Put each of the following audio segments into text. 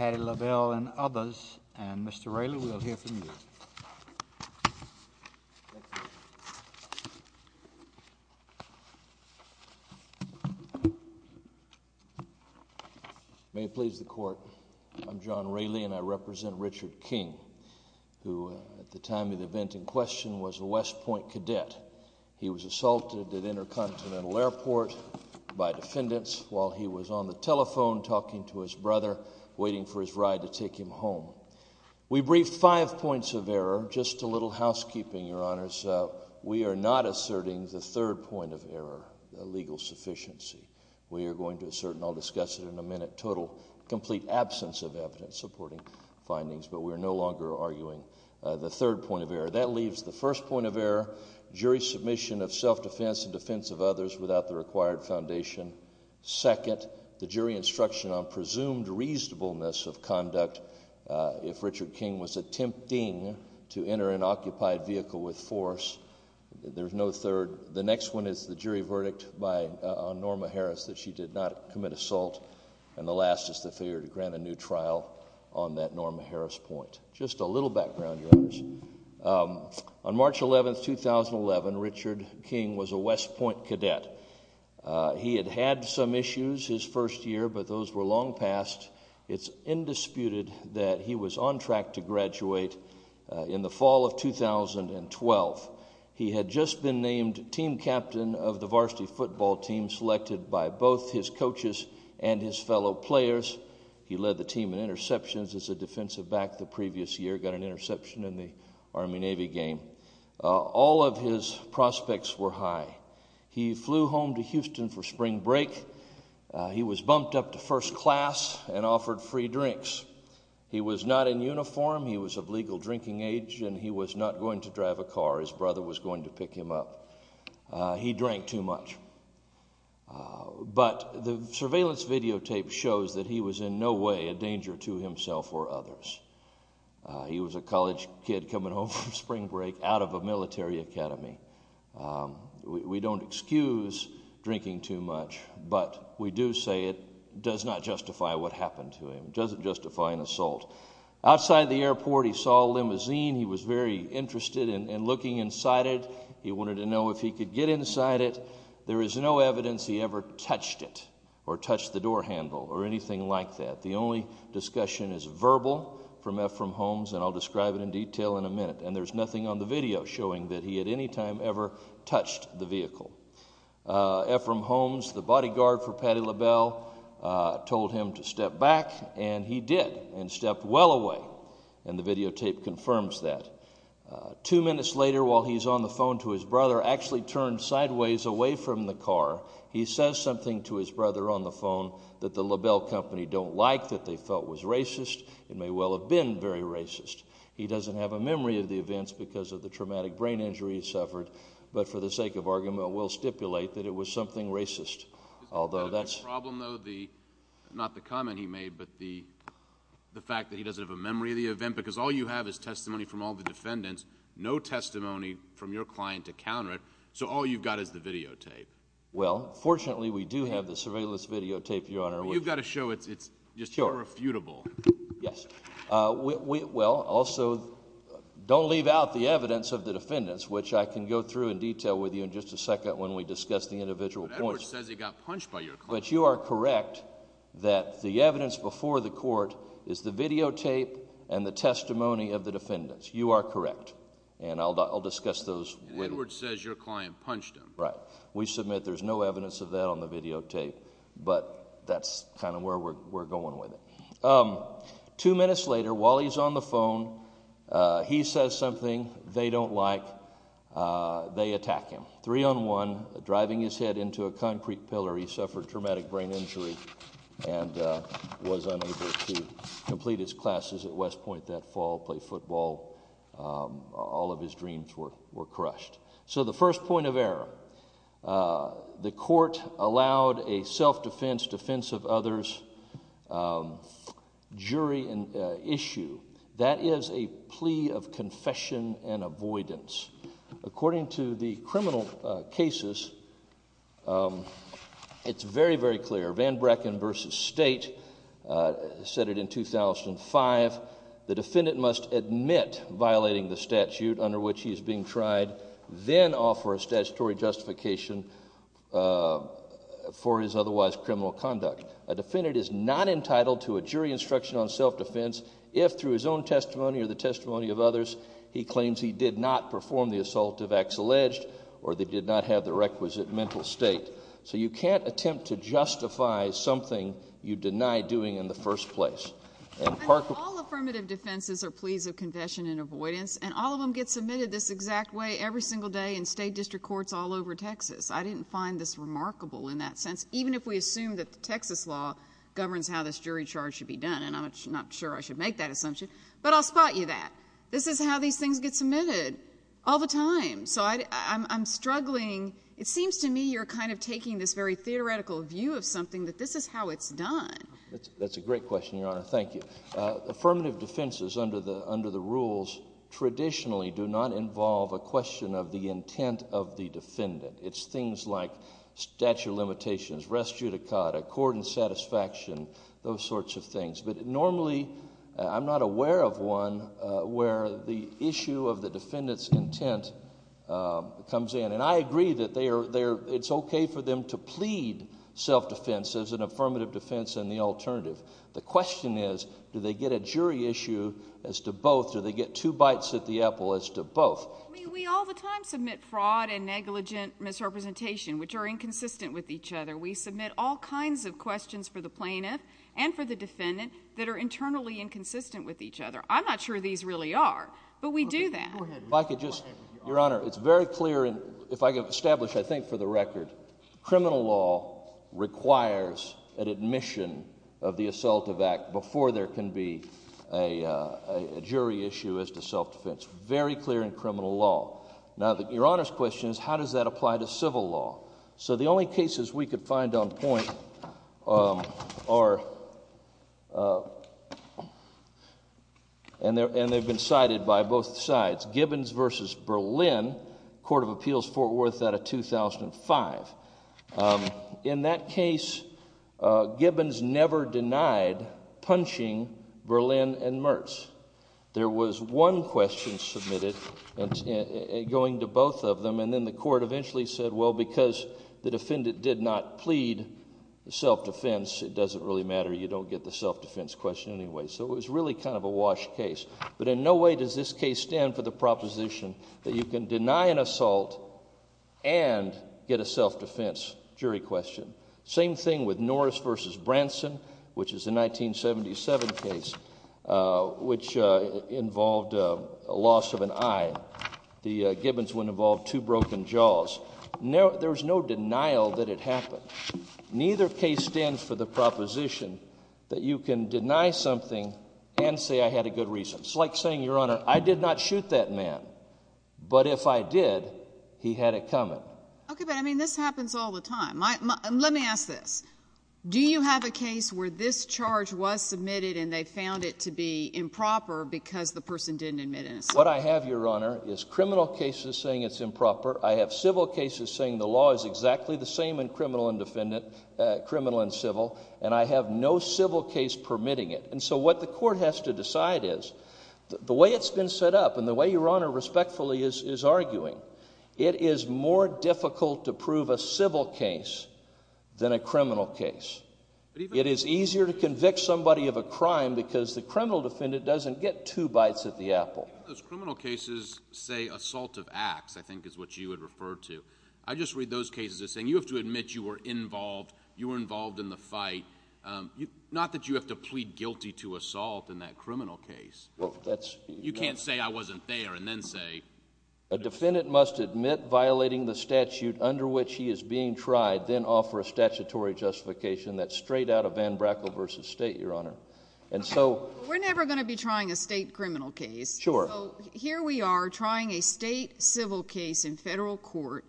May it please the Court, I'm John Raley and I represent Richard King, who at the time of the event in question was a West Point cadet. He was assaulted at Intercontinental Airport by defendants while he was on the telephone talking to his brother waiting for his ride to take him home. We briefed five points of error, just a little housekeeping, Your Honors. We are not asserting the third point of error, the legal sufficiency. We are going to assert, and I'll discuss it in a minute, total complete absence of evidence supporting findings, but we are no longer arguing the third point of error. That leaves the first point of error, jury submission of self-defense in defense of others without the required foundation. Second, the jury instruction on presumed reasonableness of conduct if Richard King was attempting to enter an occupied vehicle with force. There's no third. The next one is the jury verdict on Norma Harris that she did not commit assault, and the last is the failure to grant a new trial on that Norma Harris point. Just a little background, Your Honors. On March 11, 2011, Richard King was a West Point cadet. He had had some issues his first year, but those were long past. It's indisputed that he was on track to graduate in the fall of 2012. He had just been named team captain of the varsity football team selected by both his coaches and his fellow players. He led the team in interceptions as a defensive back the previous year, got an interception in the Army-Navy game. All of his prospects were high. He flew home to Houston for spring break. He was bumped up to first class and offered free drinks. He was not in uniform. He was of legal drinking age, and he was not going to drive a car. His brother was going to pick him up. He drank too much. But the surveillance videotape shows that he was in no way a dangerous danger to himself or others. He was a college kid coming home from spring break out of a military academy. We don't excuse drinking too much, but we do say it does not justify what happened to him. It doesn't justify an assault. Outside the airport, he saw a limousine. He was very interested in looking inside it. He wanted to know if he could get inside it. There is no evidence he ever touched it or touched the door handle or anything like that. The only discussion is verbal from Ephraim Holmes, and I'll describe it in detail in a minute. And there's nothing on the video showing that he at any time ever touched the vehicle. Ephraim Holmes, the bodyguard for Patti LaBelle, told him to step back, and he did, and stepped well away. And the videotape confirms that. Two minutes later, while he's on the phone to his brother, actually turned sideways away from the car, he says something to his brother on the phone that the LaBelle company don't like, that they felt was racist. It may well have been very racist. He doesn't have a memory of the events because of the traumatic brain injury he suffered, but for the sake of argument, we'll stipulate that it was something racist. Although that's... Is the problem, though, the... not the comment he made, but the fact that he doesn't have a memory of the event? Because all you have is testimony from all the defendants, no testimony from your client to counter it. So all you've got is the videotape. Well, fortunately, we do have the surveillance videotape, Your Honor. You've got to show it's just irrefutable. Yes. Well, also, don't leave out the evidence of the defendants, which I can go through in detail with you in just a second when we discuss the individual points. But Edwards says he got punched by your client. But you are correct that the evidence before the court is the videotape and the testimony of the defendants. You are correct. And I'll discuss those when... And Edwards says your client punched him. Right. We submit there's no evidence of that on the videotape, but that's kind of where we're going with it. Two minutes later, while he's on the phone, he says something they don't like. They attack him. Three on one, driving his head into a concrete pillar. He suffered traumatic brain injury and was unable to complete his classes at West Point that fall, play football. All of his dreams were crushed. So the first point of error, the court allowed a self-defense defense of others jury issue. That is a plea of confession and avoidance. According to the criminal cases, it's very, very clear. Van Brecken v. State said it in 2005, the defendant must admit violating the statute under which he is being tried, then offer a statutory justification for his otherwise criminal conduct. A defendant is not entitled to a jury instruction on self-defense if, through his own testimony or the testimony of others, he claims he did not perform the assault of acts alleged or they did not have the requisite mental state. So you can't attempt to justify something you deny doing in the first place. All affirmative defenses are pleas of confession and avoidance, and all of them get submitted this exact way every single day in state district courts all over Texas. I didn't find this remarkable in that sense, even if we assume that the Texas law governs how this jury charge should be done. And I'm not sure I should make that assumption, but I'll spot you that. This is how these things get submitted all the time. So I'm struggling. It seems to me you're kind of taking this very theoretical view of something that this is how it's done. That's a great question, Your Honor. Thank you. Affirmative defenses under the rules traditionally do not involve a question of the intent of the defendant. It's things like statute of limitations, rest judicata, court and satisfaction, those sorts of things. But normally, I'm not aware of one where the issue of the defendant's intent comes in. And I agree that it's okay for them to plead self-defense as an affirmative defense and the alternative. The question is, do they get a jury issue as to both, do they get two bites at the apple as to both? I mean, we all the time submit fraud and negligent misrepresentation, which are inconsistent with each other. We submit all kinds of questions for the plaintiff and for the defendant that are internally inconsistent with each other. I'm not sure these really are, but we do that. Go ahead. If I could just, Your Honor, it's very clear and if I could establish I think for the record, criminal law requires an admission of the assaultive act before there can be a jury issue as to self-defense. Very clear in criminal law. Now Your Honor's question is, how does that apply to civil law? So the only cases we could find on point are, and they've been cited by both sides, Gibbons v. Berlin, Court of Appeals Fort Worth out of 2005. In that case, Gibbons never denied punching Berlin and Mertz. There was one question submitted going to both of them and then the court eventually said well, because the defendant did not plead self-defense, it doesn't really matter. You don't get the self-defense question anyway. So it was really kind of a wash case. But in no way does this case stand for the proposition that you can deny an assault and get a self-defense jury question. Same thing with Norris v. Branson, which is a 1977 case, which involved a loss of an eye. The Gibbons one involved two broken jaws. There's no denial that it happened. Neither case stands for the proposition that you can deny something and say I had a good reason. It's like saying, Your Honor, I did not shoot that man, but if I did, he had it coming. Okay, but I mean this happens all the time. Let me ask this. Do you have a case where this charge was submitted and they found it to be improper because the person didn't admit an assault? What I have, Your Honor, is criminal cases saying it's improper. I have civil cases saying the law is exactly the same in criminal and civil, and I have no civil case permitting it. And so what the court has to decide is, the way it's been set up and the way Your Honor respectfully is arguing, it is more difficult to prove a civil case than a criminal case. It is easier to convict somebody of a crime because the criminal defendant doesn't get two bites at the apple. Those criminal cases say assault of acts, I think is what you would refer to. I just read those cases as saying you have to admit you were involved, you were involved in the fight. Not that you have to plead guilty to assault in that criminal case. You can't say I wasn't there and then say... A defendant must admit violating the statute under which he is being tried, then offer a statutory justification that's straight out of Van Brackle v. State, Your Honor. And so... We're never going to be trying a state criminal case. Sure. So here we are trying a state civil case in federal court.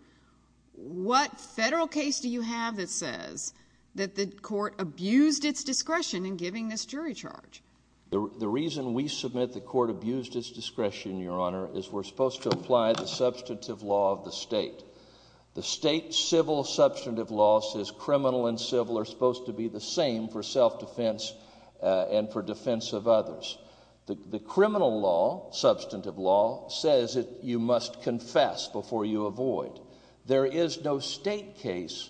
What federal case do you have that says that the court abused its discretion in giving this jury charge? The reason we submit the court abused its discretion, Your Honor, is we're supposed to apply the substantive law of the state. The state civil substantive law says criminal and civil are supposed to be the same for self-defense and for defense of others. The criminal law, substantive law, says that you must confess before you avoid. There is no state case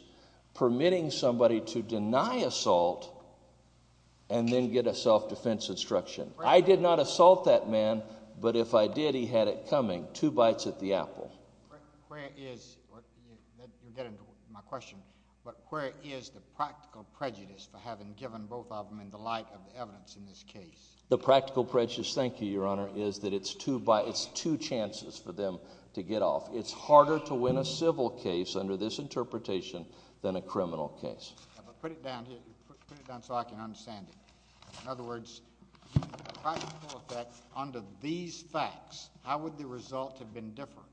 permitting somebody to deny assault and then get a self-defense instruction. I did not assault that man, but if I did, he had it coming, two bites at the apple. Where is... you'll get into my question, but where is the practical prejudice for having given both of them in the light of the evidence in this case? The practical prejudice, thank you, Your Honor, is that it's two chances for them to get off. It's harder to win a civil case under this interpretation than a criminal case. Put it down here, put it down so I can understand it. In other words, under these facts, how would the result have been different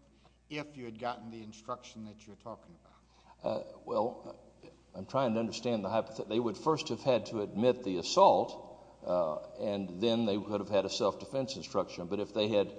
if you had gotten the instruction that you're talking about? Well, I'm trying to understand the hypothetical. They would first have had to admit the assault, and then they would have had a self-defense instruction. But if they had...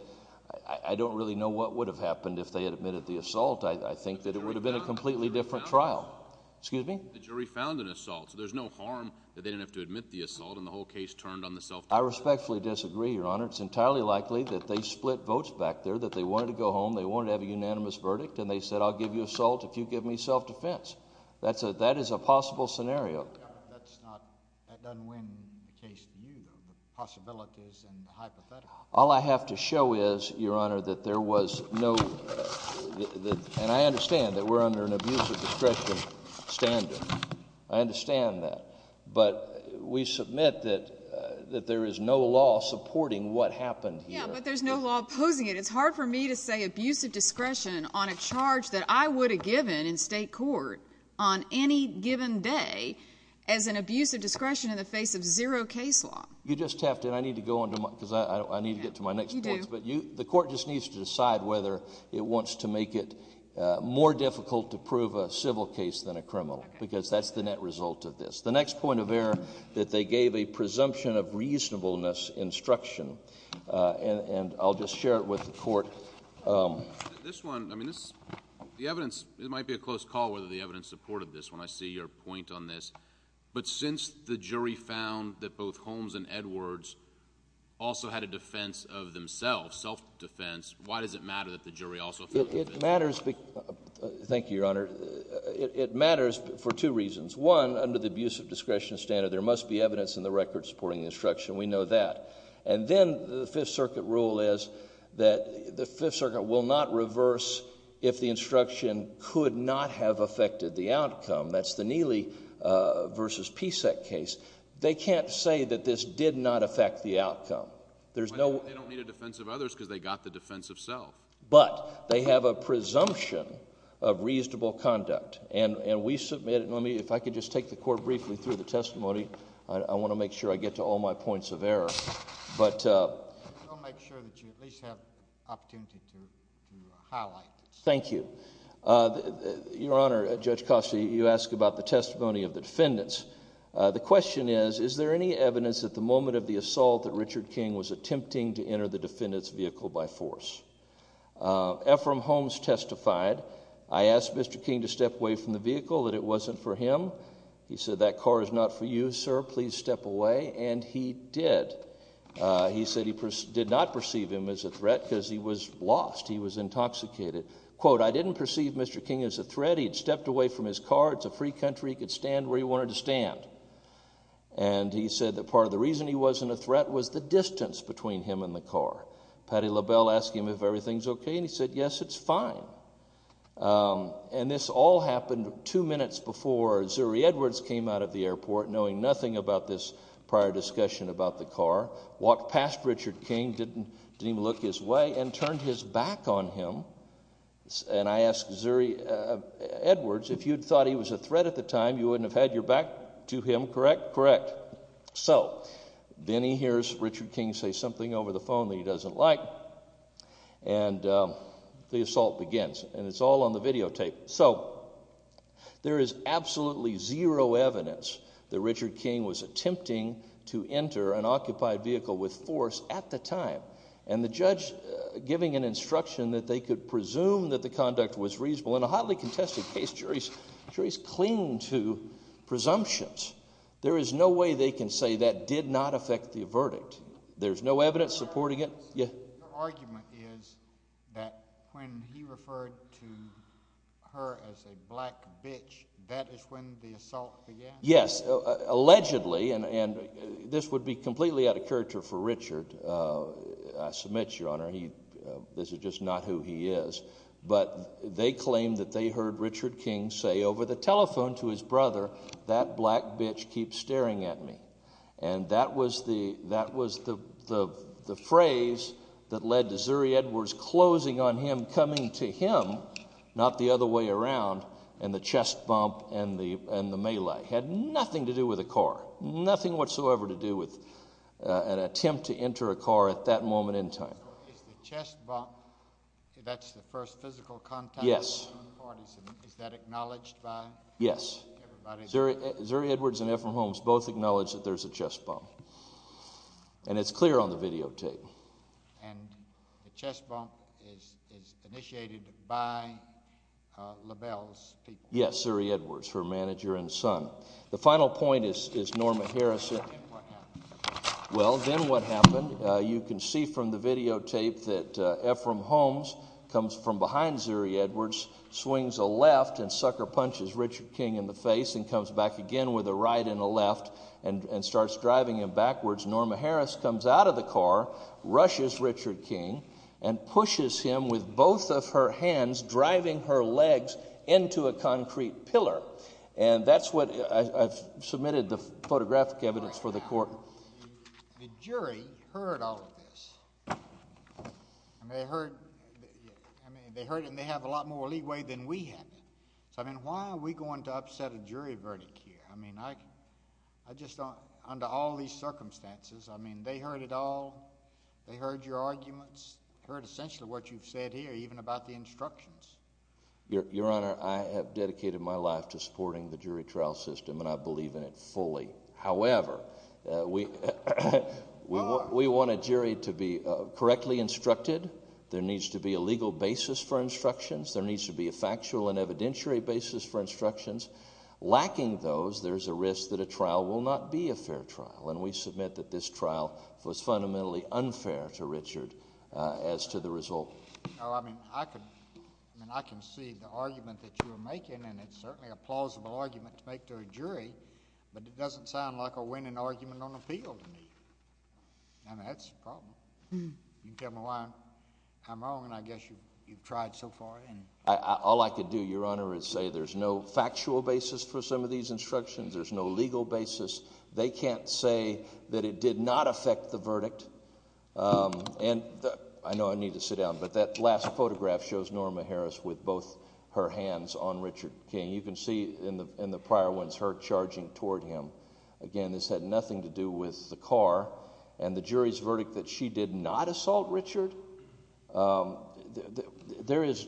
I don't really know what would have happened if they had admitted the assault. I think that it would have been a completely different trial. Excuse me? The jury found an assault. So there's no harm that they didn't have to admit the assault and the whole case turned on the self-defense. I respectfully disagree, Your Honor. It's entirely likely that they split votes back there, that they wanted to go home, they wanted to have a unanimous verdict, and they said, I'll give you assault if you give me self-defense. That is a possible scenario. Yeah, but that's not... that doesn't win the case for you, though. The possibility is in the hypothetical. All I have to show is, Your Honor, that there was no... and I understand that we're under an abusive discretion standard. I understand that. But we submit that there is no law supporting what happened here. Yeah, but there's no law opposing it. It's hard for me to say abusive discretion on a charge that I would have given in state court on any given day as an abusive discretion in the face of zero case law. You just have to... and I need to go on to my... because I need to get to my next points. You do. The court just needs to decide whether it wants to make it more difficult to prove a civil case than a criminal, because that's the net result of this. The next point of error, that they gave a presumption of reasonableness instruction, and I'll just share it with the court. This one... I mean, this... the evidence... it might be a close call whether the evidence supported this when I see your point on this. But since the jury found that both Holmes and Edwards also had a defense of themselves, self-defense, why does it matter that the jury also... It matters... thank you, Your Honor. It matters for two reasons. One, under the abusive discretion standard, there must be evidence in the record supporting instruction. We know that. And then, the Fifth Circuit rule is that the Fifth Circuit will not reverse if the instruction could not have affected the outcome. That's the Neely v. Pesek case. They can't say that this did not affect the outcome. There's no... They don't need a defense of others because they got the defense of self. But, they have a presumption of reasonable conduct. And we submit... and let me... if I could just take the court briefly through the testimony. I want to make sure I get to all my points of error. But... I'll make sure that you at least have opportunity to highlight this. Thank you. Your Honor, Judge Costa, you ask about the testimony of the defendants. The question is, is there any evidence at the moment of the assault that Richard King was attempting to enter the defendant's vehicle by force? Ephraim Holmes testified. I asked Mr. King to step away from the vehicle, that it wasn't for him. He said, that car is not for you, sir. Please step away. And he did. He said he did not perceive him as a threat because he was lost. He was intoxicated. Quote, I didn't perceive Mr. King as a threat. He had stepped away from his car. It's a free country. He could stand where he wanted to stand. And he said that part of the reason he wasn't a threat was the distance between him and the car. Patti LaBelle asked him if everything's okay. And he said, yes, it's fine. And this all happened two minutes before Zuri Edwards came out of the airport, knowing nothing about this prior discussion about the car, walked past Richard King, didn't even look his way, and turned his back on him. And I asked Zuri Edwards, if you'd thought he was a threat at the time, you wouldn't have had your back to him, correct? Correct. So, then he hears Richard King say something over the phone that he doesn't like, and the assault begins. And it's all on the videotape. So, there is absolutely zero evidence that Richard King was attempting to enter an occupied vehicle with force at the time, and the judge giving an instruction that they could presume that the conduct was reasonable. In a hotly contested case, juries cling to presumptions. There is no way they can say that did not affect the verdict. There's no evidence supporting it. Your argument is that when he referred to her as a black bitch, that is when the assault began? Yes, allegedly, and this would be completely out of character for Richard. I submit, Your Honor, this is just not who he is. But they claim that they heard Richard King say over the telephone to his brother, that black bitch keeps staring at me. And that was the phrase that led to Zuri Edwards closing on him, coming to him, not the other way around, and the chest bump and the melee. It had nothing to do with a car, nothing whatsoever to do with an attempt to enter a car at that moment in time. Is the chest bump, that's the first physical contact? Yes. Is that acknowledged by everybody? Zuri Edwards and Ephraim Holmes both acknowledge that there's a chest bump, and it's clear on the videotape. And the chest bump is initiated by LaBelle's people? Yes, Zuri Edwards, her manager and son. The final point is Norma Harrison. And what happened? Well, then what happened, you can see from the videotape that Ephraim Holmes comes from behind Zuri Edwards, swings a left and sucker punches Richard King in the face and comes back again with a right and a left and starts driving him backwards. Norma Harris comes out of the car, rushes Richard King, and pushes him with both of her hands, driving her legs into a concrete pillar. And that's what I've submitted the photographic evidence for the Court. The jury heard all of this. I mean, they heard it, and they have a lot more leeway than we have. So, I mean, why are we going to upset a jury verdict here? I mean, under all these circumstances, I mean, they heard it all. They heard your arguments. They heard essentially what you've said here, even about the instructions. Your Honor, I have dedicated my life to supporting the jury trial system, and I believe in it fully. However, we want a jury to be correctly instructed. There needs to be a legal basis for instructions. There needs to be a factual and evidentiary basis for instructions. Lacking those, there's a risk that a trial will not be a fair trial, and we submit that this trial was fundamentally unfair to Richard as to the result. No, I mean, I can see the argument that you are making, and it's certainly a plausible argument to make to a jury, but it doesn't sound like a winning argument on appeal to me. I mean, that's a problem. You can tell me why I'm wrong, and I guess you've tried so far. All I could do, Your Honor, is say there's no factual basis for some of these instructions. There's no legal basis. They can't say that it did not affect the verdict. And I know I need to sit down, but that last photograph shows Norma Harris with both her hands on Richard King. You can see in the prior ones her charging toward him. Again, this had nothing to do with the car. And the jury's verdict that she did not assault Richard? There is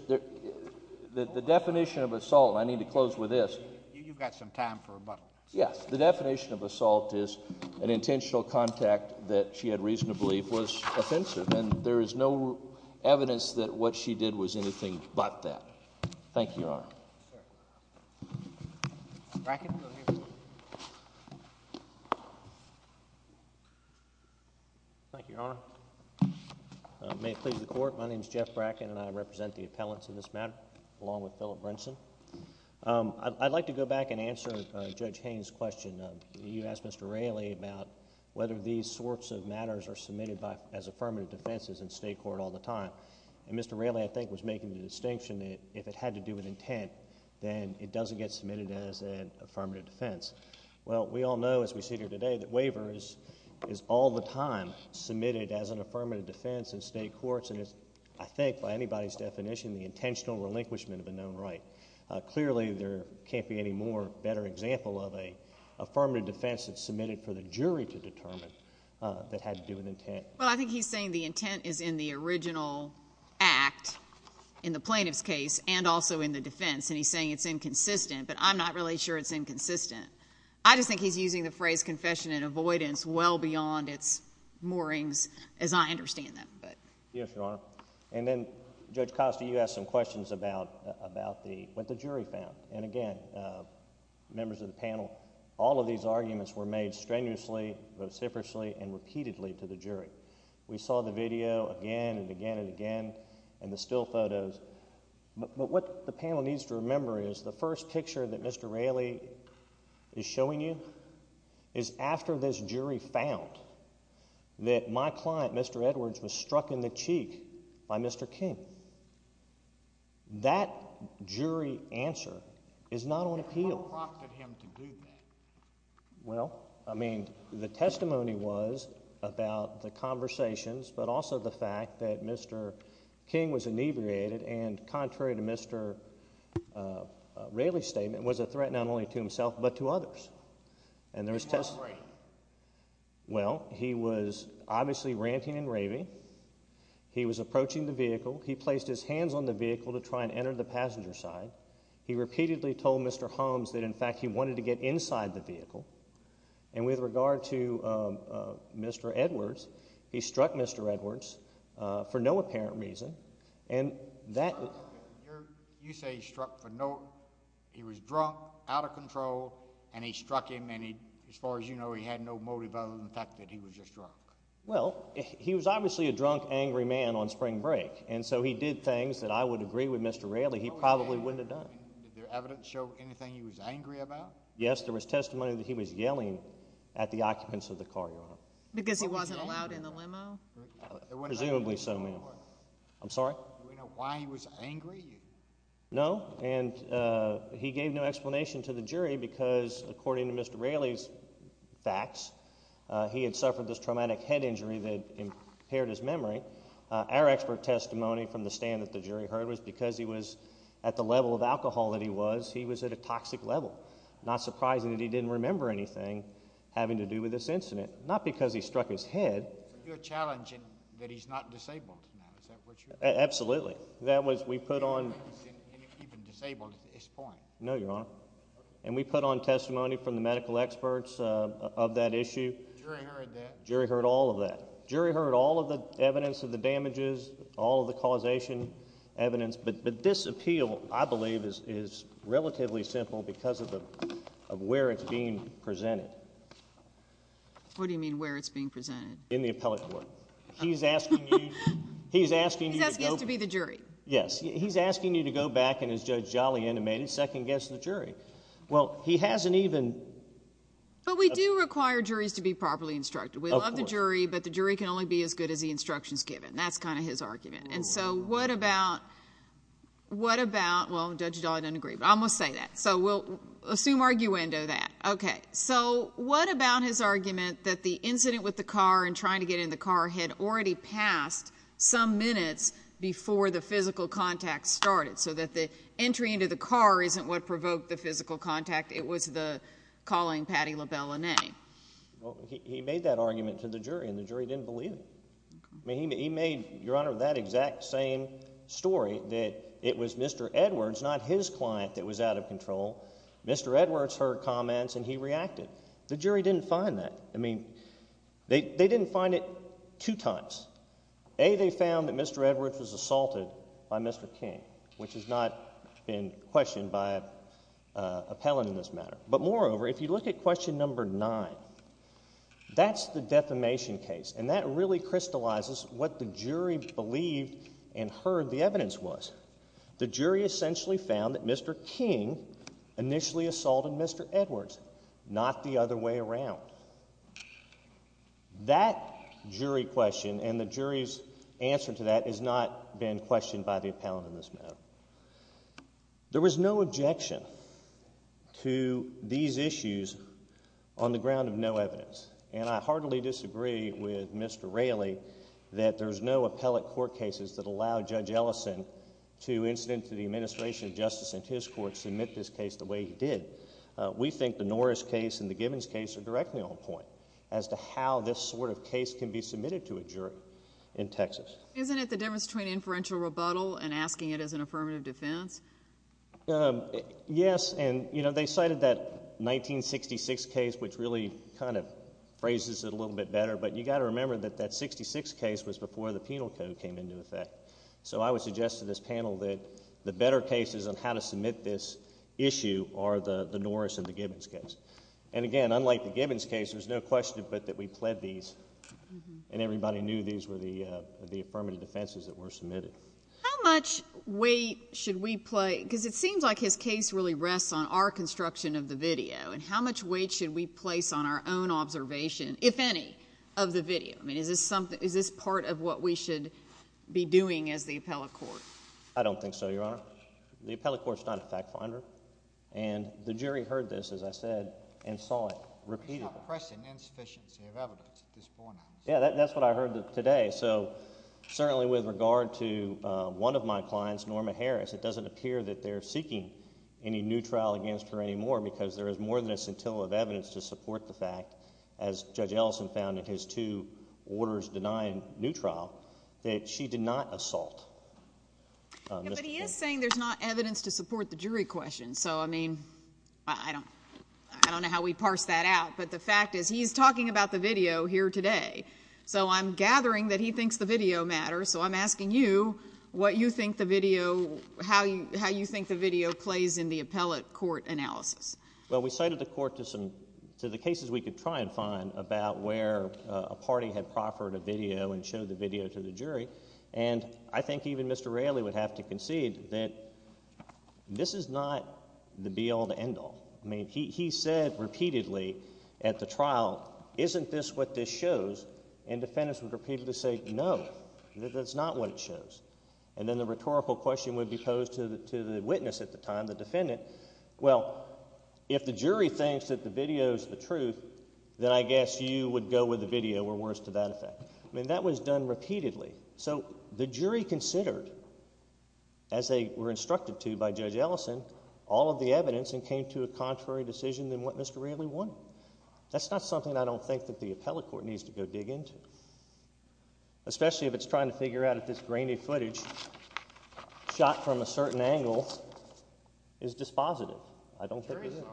the definition of assault, and I need to close with this. You've got some time for rebuttal. Yes, the definition of assault is an intentional contact that she had reason to believe was offensive, and there is no evidence that what she did was anything but that. Thank you, Your Honor. Bracken, go ahead. Thank you, Your Honor. May it please the Court, my name is Jeff Bracken, and I represent the appellants in this matter along with Philip Brinson. I'd like to go back and answer Judge Haynes' question. You asked Mr. Raley about whether these sorts of matters are submitted as affirmative defenses in state court all the time. And Mr. Raley, I think, was making the distinction that if it had to do with intent, then it doesn't get submitted as an affirmative defense. Well, we all know, as we sit here today, that waiver is all the time submitted as an affirmative defense in state courts, and it's, I think, by anybody's definition, the intentional relinquishment of a known right. Clearly, there can't be any better example of an affirmative defense that's submitted for the jury to determine that had to do with intent. Well, I think he's saying the intent is in the original act in the plaintiff's case and also in the defense, and he's saying it's inconsistent, but I'm not really sure it's inconsistent. I just think he's using the phrase confession and avoidance well beyond its moorings, as I understand them. Yes, Your Honor. And then, Judge Costa, you asked some questions about what the jury found. And again, members of the panel, all of these arguments were made strenuously, vociferously, and repeatedly to the jury. We saw the video again and again and again and the still photos, but what the panel needs to remember is the first picture that Mr. Raley is showing you is after this jury found that my client, Mr. Edwards, was struck in the cheek by Mr. King. That jury answer is not on appeal. Who proctored him to do that? Well, I mean, the testimony was about the conversations but also the fact that Mr. King was inebriated and contrary to Mr. Raley's statement, was a threat not only to himself but to others. And there was testimony. How great. Well, he was obviously ranting and raving. He was approaching the vehicle. He placed his hands on the vehicle to try and enter the passenger side. He repeatedly told Mr. Holmes that, in fact, he wanted to get inside the vehicle. And with regard to Mr. Edwards, he struck Mr. Edwards for no apparent reason. You say he struck for no—he was drunk, out of control, and he struck him, and as far as you know, he had no motive other than the fact that he was just drunk. Well, he was obviously a drunk, angry man on spring break, and so he did things that I would agree with Mr. Raley he probably wouldn't have done. Did the evidence show anything he was angry about? Yes, there was testimony that he was yelling at the occupants of the car yard. Because he wasn't allowed in the limo? Presumably so, ma'am. I'm sorry? Do we know why he was angry? No, and he gave no explanation to the jury because, according to Mr. Raley's facts, he had suffered this traumatic head injury that impaired his memory. Our expert testimony from the stand that the jury heard was because he was at the level of alcohol that he was, he was at a toxic level. Not surprising that he didn't remember anything having to do with this incident, not because he struck his head. So you're challenging that he's not disabled now, is that what you're saying? Absolutely. That was, we put on— He's not even disabled at this point. No, Your Honor. And we put on testimony from the medical experts of that issue. The jury heard that? The jury heard all of that. The jury heard all of the evidence of the damages, all of the causation evidence, but this appeal, I believe, is relatively simple because of where it's being presented. What do you mean where it's being presented? In the appellate court. He's asking you— He's asking us to be the jury. Yes. He's asking you to go back and, as Judge Jolly intimated, second-guess the jury. Well, he hasn't even— But we do require juries to be properly instructed. Of course. We love the jury, but the jury can only be as good as the instructions given. That's kind of his argument. And so what about—well, Judge Jolly doesn't agree, but I'm going to say that. So we'll assume arguendo that. Okay. So what about his argument that the incident with the car and trying to get in the car had already passed some minutes before the physical contact started, so that the entry into the car isn't what provoked the physical contact. It was the calling Patti LaBelle a name. Well, he made that argument to the jury, and the jury didn't believe him. He made, Your Honor, that exact same story, that it was Mr. Edwards, not his client, that was out of control. Mr. Edwards heard comments, and he reacted. The jury didn't find that. I mean, they didn't find it two times. A, they found that Mr. Edwards was assaulted by Mr. King, which has not been questioned by appellant in this matter. But moreover, if you look at question number nine, that's the defamation case, and that really crystallizes what the jury believed and heard the evidence was. The jury essentially found that Mr. King initially assaulted Mr. Edwards, not the other way around. That jury question and the jury's answer to that has not been questioned by the appellant in this matter. There was no objection to these issues on the ground of no evidence, and I heartily disagree with Mr. Raley that there's no appellate court cases that allow Judge Ellison to, incidentally, the administration of justice in his court, submit this case the way he did. We think the Norris case and the Gibbons case are directly on point as to how this sort of case can be submitted to a jury in Texas. Isn't it the difference between inferential rebuttal and asking it as an affirmative defense? Yes, and, you know, they cited that 1966 case, which really kind of phrases it a little bit better, but you've got to remember that that 66 case was before the penal code came into effect. So I would suggest to this panel that the better cases on how to submit this issue are the Norris and the Gibbons case. And again, unlike the Gibbons case, there's no question but that we pled these, and everybody knew these were the affirmative defenses that were submitted. How much weight should we place, because it seems like his case really rests on our construction of the video, and how much weight should we place on our own observation, if any, of the video? I mean, is this part of what we should be doing as the appellate court? I don't think so, Your Honor. The appellate court's not a fact finder, and the jury heard this, as I said, and saw it repeatedly. It's not pressing insufficiency of evidence at this point. Yeah, that's what I heard today. So certainly with regard to one of my clients, Norma Harris, it doesn't appear that they're seeking any new trial against her anymore because there is more than a scintilla of evidence to support the fact, as Judge Ellison found in his two orders denying new trial, that she did not assault Mr. Gibbs. But he is saying there's not evidence to support the jury question, so, I mean, I don't know how we'd parse that out. But the fact is he's talking about the video here today. So I'm gathering that he thinks the video matters. So I'm asking you what you think the video, how you think the video plays in the appellate court analysis. Well, we cited the court to the cases we could try and find about where a party had proffered a video and showed the video to the jury, and I think even Mr. Railey would have to concede that this is not the be-all, the end-all. I mean, he said repeatedly at the trial, isn't this what this shows? And defendants would repeatedly say, no, that's not what it shows. And then the rhetorical question would be posed to the witness at the time, the defendant. Well, if the jury thinks that the video is the truth, then I guess you would go with the video. We're worse to that effect. I mean, that was done repeatedly. So the jury considered, as they were instructed to by Judge Ellison, all of the evidence and came to a contrary decision than what Mr. Railey wanted. That's not something I don't think that the appellate court needs to go dig into, especially if it's trying to figure out if this grainy footage shot from a certain angle is dispositive. I don't think it is. The jury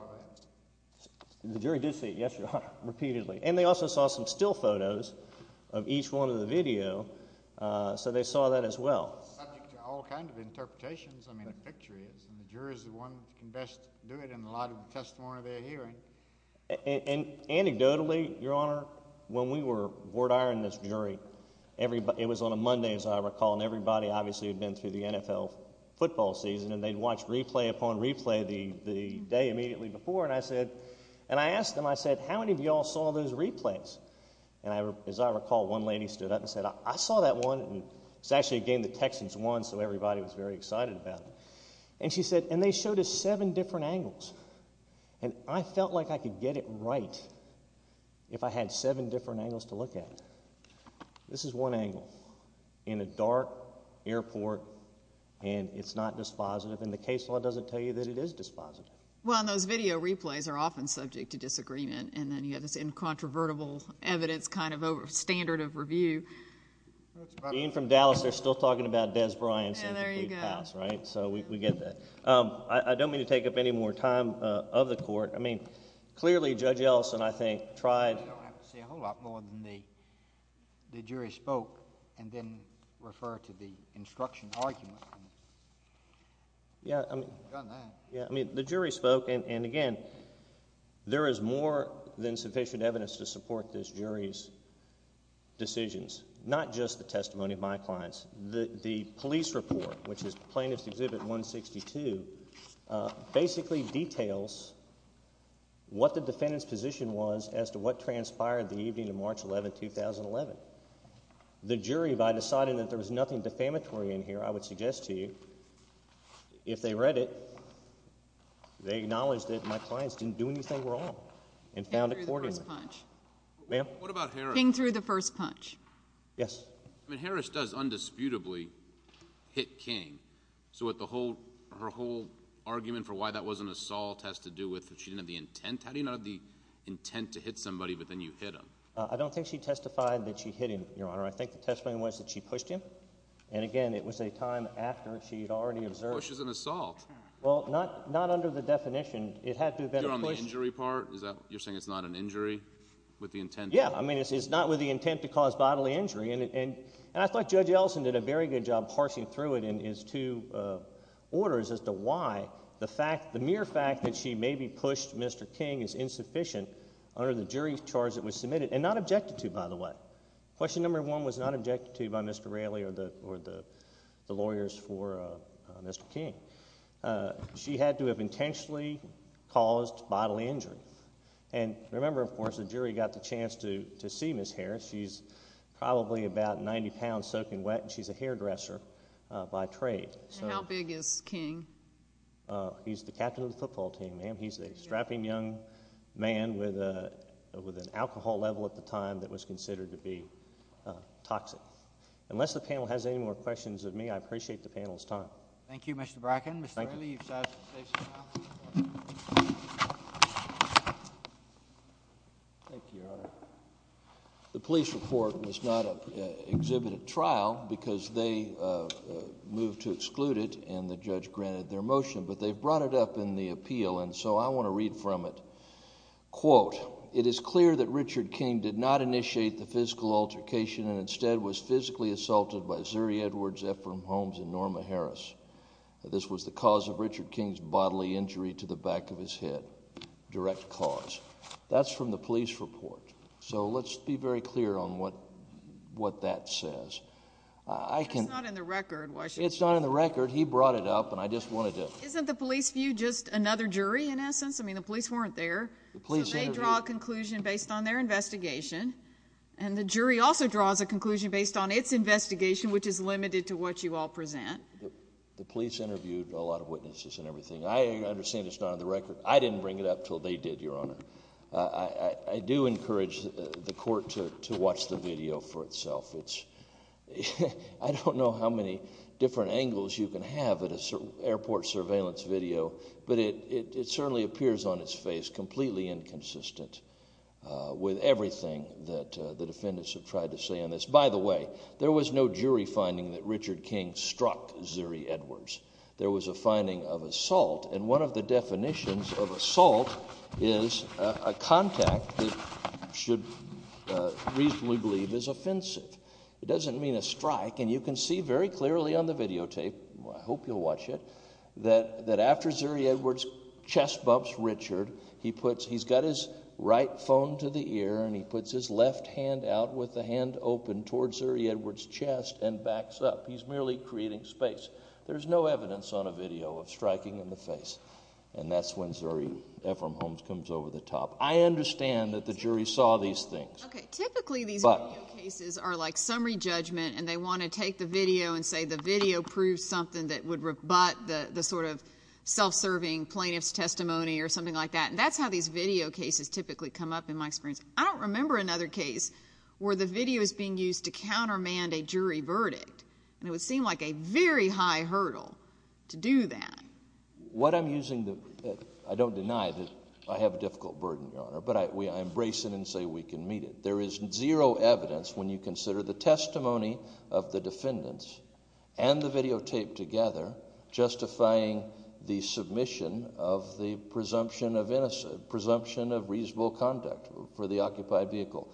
saw it. The jury did see it. Yes, you are, repeatedly. And they also saw some still photos of each one of the video, so they saw that as well. It's subject to all kinds of interpretations. I mean, the picture is. And the jury is the one that can best do it in light of the testimony they're hearing. And anecdotally, Your Honor, when we were board-ironing this jury, it was on a Monday, as I recall, and everybody obviously had been through the NFL football season, and they'd watched replay upon replay the day immediately before. And I asked them, I said, how many of you all saw those replays? And as I recall, one lady stood up and said, I saw that one. It was actually a game the Texans won, so everybody was very excited about it. And she said, and they showed us seven different angles. And I felt like I could get it right if I had seven different angles to look at. This is one angle in a dark airport, and it's not dispositive. And the case law doesn't tell you that it is dispositive. Well, and those video replays are often subject to disagreement, and then you have this incontrovertible evidence kind of standard of review. Being from Dallas, they're still talking about Dez Bryant. There you go. So we get that. I don't mean to take up any more time of the court. I mean, clearly Judge Ellison, I think, tried. You don't have to say a whole lot more than the jury spoke and then refer to the instruction argument. Yeah. I mean, the jury spoke, and again, there is more than sufficient evidence to support this jury's decisions, not just the testimony of my clients. The police report, which is Plaintiff's Exhibit 162, basically details what the defendant's position was as to what transpired the evening of March 11, 2011. The jury, by deciding that there was nothing defamatory in here, I would suggest to you, if they read it, they acknowledged that my clients didn't do anything wrong and found accordingly. King threw the first punch. Ma'am? What about Harris? King threw the first punch. Yes. I mean, Harris does undisputably hit King, so her whole argument for why that wasn't assault has to do with that she didn't have the intent. How do you not have the intent to hit somebody, but then you hit him? I don't think she testified that she hit him, Your Honor. I think the testimony was that she pushed him, and, again, it was a time after she had already observed. Push is an assault. Well, not under the definition. It had to have been a push. You're on the injury part? You're saying it's not an injury with the intent? Yes. I mean, it's not with the intent to cause bodily injury, and I thought Judge Ellison did a very good job parsing through it in his two orders as to why the mere fact that she maybe pushed Mr. King is insufficient under the jury charge that was submitted, and not objected to, by the way. Question number one was not objected to by Mr. Raley or the lawyers for Mr. King. She had to have intentionally caused bodily injury, and remember, of course, the jury got the chance to see Ms. Harris. She's probably about 90 pounds soaking wet, and she's a hairdresser by trade. How big is King? He's a strapping young man with an alcohol level at the time that was considered to be toxic. Unless the panel has any more questions of me, I appreciate the panel's time. Thank you, Mr. Bracken. Mr. Raley, you've sided with the case now. Thank you, Your Honor. The police report was not exhibited at trial because they moved to exclude it, and the judge granted their motion, but they brought it up in the appeal, and so I want to read from it. Quote, it is clear that Richard King did not initiate the physical altercation and instead was physically assaulted by Zuri Edwards, Ephraim Holmes, and Norma Harris. This was the cause of Richard King's bodily injury to the back of his head. Direct cause. That's from the police report. So let's be very clear on what that says. It's not in the record. It's not in the record. He brought it up, and I just wanted to— Isn't the police view just another jury, in essence? I mean, the police weren't there. So they draw a conclusion based on their investigation, and the jury also draws a conclusion based on its investigation, which is limited to what you all present. The police interviewed a lot of witnesses and everything. I understand it's not on the record. I didn't bring it up until they did, Your Honor. I do encourage the court to watch the video for itself. I don't know how many different angles you can have at an airport surveillance video, but it certainly appears on its face completely inconsistent with everything that the defendants have tried to say on this. By the way, there was no jury finding that Richard King struck Zuri Edwards. There was a finding of assault, and one of the definitions of assault is a contact that you should reasonably believe is offensive. It doesn't mean a strike, and you can see very clearly on the videotape—I hope you'll watch it— that after Zuri Edwards chest bumps Richard, he's got his right phone to the ear, and he puts his left hand out with the hand open towards Zuri Edwards' chest and backs up. He's merely creating space. There's no evidence on a video of striking in the face, and that's when Zuri Ephraim Holmes comes over the top. I understand that the jury saw these things. Okay, typically these video cases are like summary judgment, and they want to take the video and say the video proves something that would rebut the sort of self-serving plaintiff's testimony or something like that, and that's how these video cases typically come up in my experience. I don't remember another case where the video is being used to countermand a jury verdict, and it would seem like a very high hurdle to do that. What I'm using—I don't deny that I have a difficult burden, Your Honor, but I embrace it and say we can meet it. There is zero evidence when you consider the testimony of the defendants and the videotape together justifying the submission of the presumption of reasonable conduct for the occupied vehicle.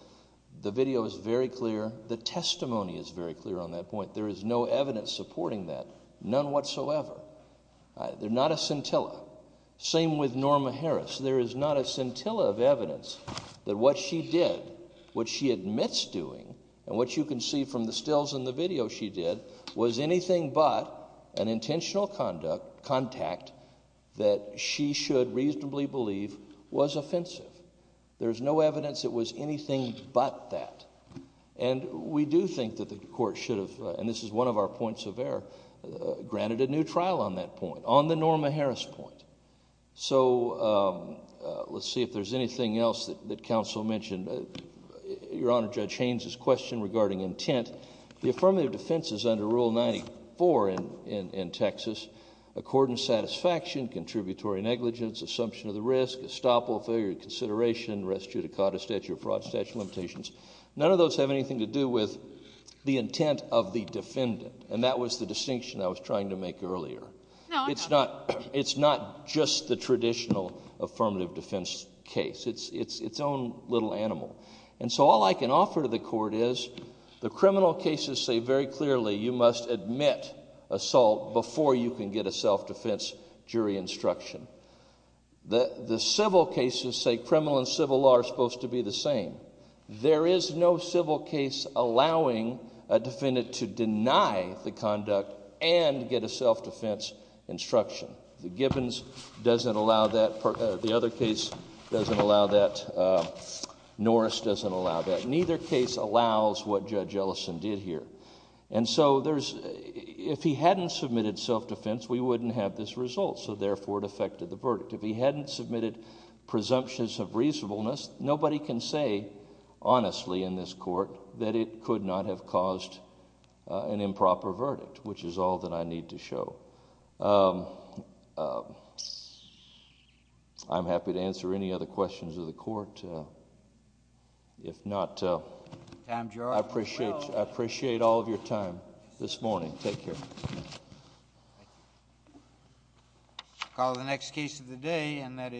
The video is very clear. The testimony is very clear on that point. There is no evidence supporting that, none whatsoever. They're not a scintilla. Same with Norma Harris. There is not a scintilla of evidence that what she did, what she admits doing, and what you can see from the stills in the video she did, was anything but an intentional contact that she should reasonably believe was offensive. There's no evidence it was anything but that. And we do think that the Court should have—and this is one of our points of error— granted a new trial on that point, on the Norma Harris point. So let's see if there's anything else that counsel mentioned. Your Honor, Judge Haynes's question regarding intent. The affirmative defense is under Rule 94 in Texas. According to satisfaction, contributory negligence, assumption of the risk, estoppel, failure of consideration, res judicata, statute of fraud, statute of limitations, none of those have anything to do with the intent of the defendant, and that was the distinction I was trying to make earlier. It's not just the traditional affirmative defense case. It's its own little animal. And so all I can offer to the Court is the criminal cases say very clearly you must admit assault before you can get a self-defense jury instruction. The civil cases say criminal and civil law are supposed to be the same. There is no civil case allowing a defendant to deny the conduct and get a self-defense instruction. The Gibbons doesn't allow that. The other case doesn't allow that. Norris doesn't allow that. Neither case allows what Judge Ellison did here. And so if he hadn't submitted self-defense, we wouldn't have this result, so therefore it affected the verdict. If he hadn't submitted presumptions of reasonableness, nobody can say honestly in this Court that it could not have caused an improper verdict, which is all that I need to show. I'm happy to answer any other questions of the Court. If not, I appreciate all of your time this morning. Thank you all. Take care.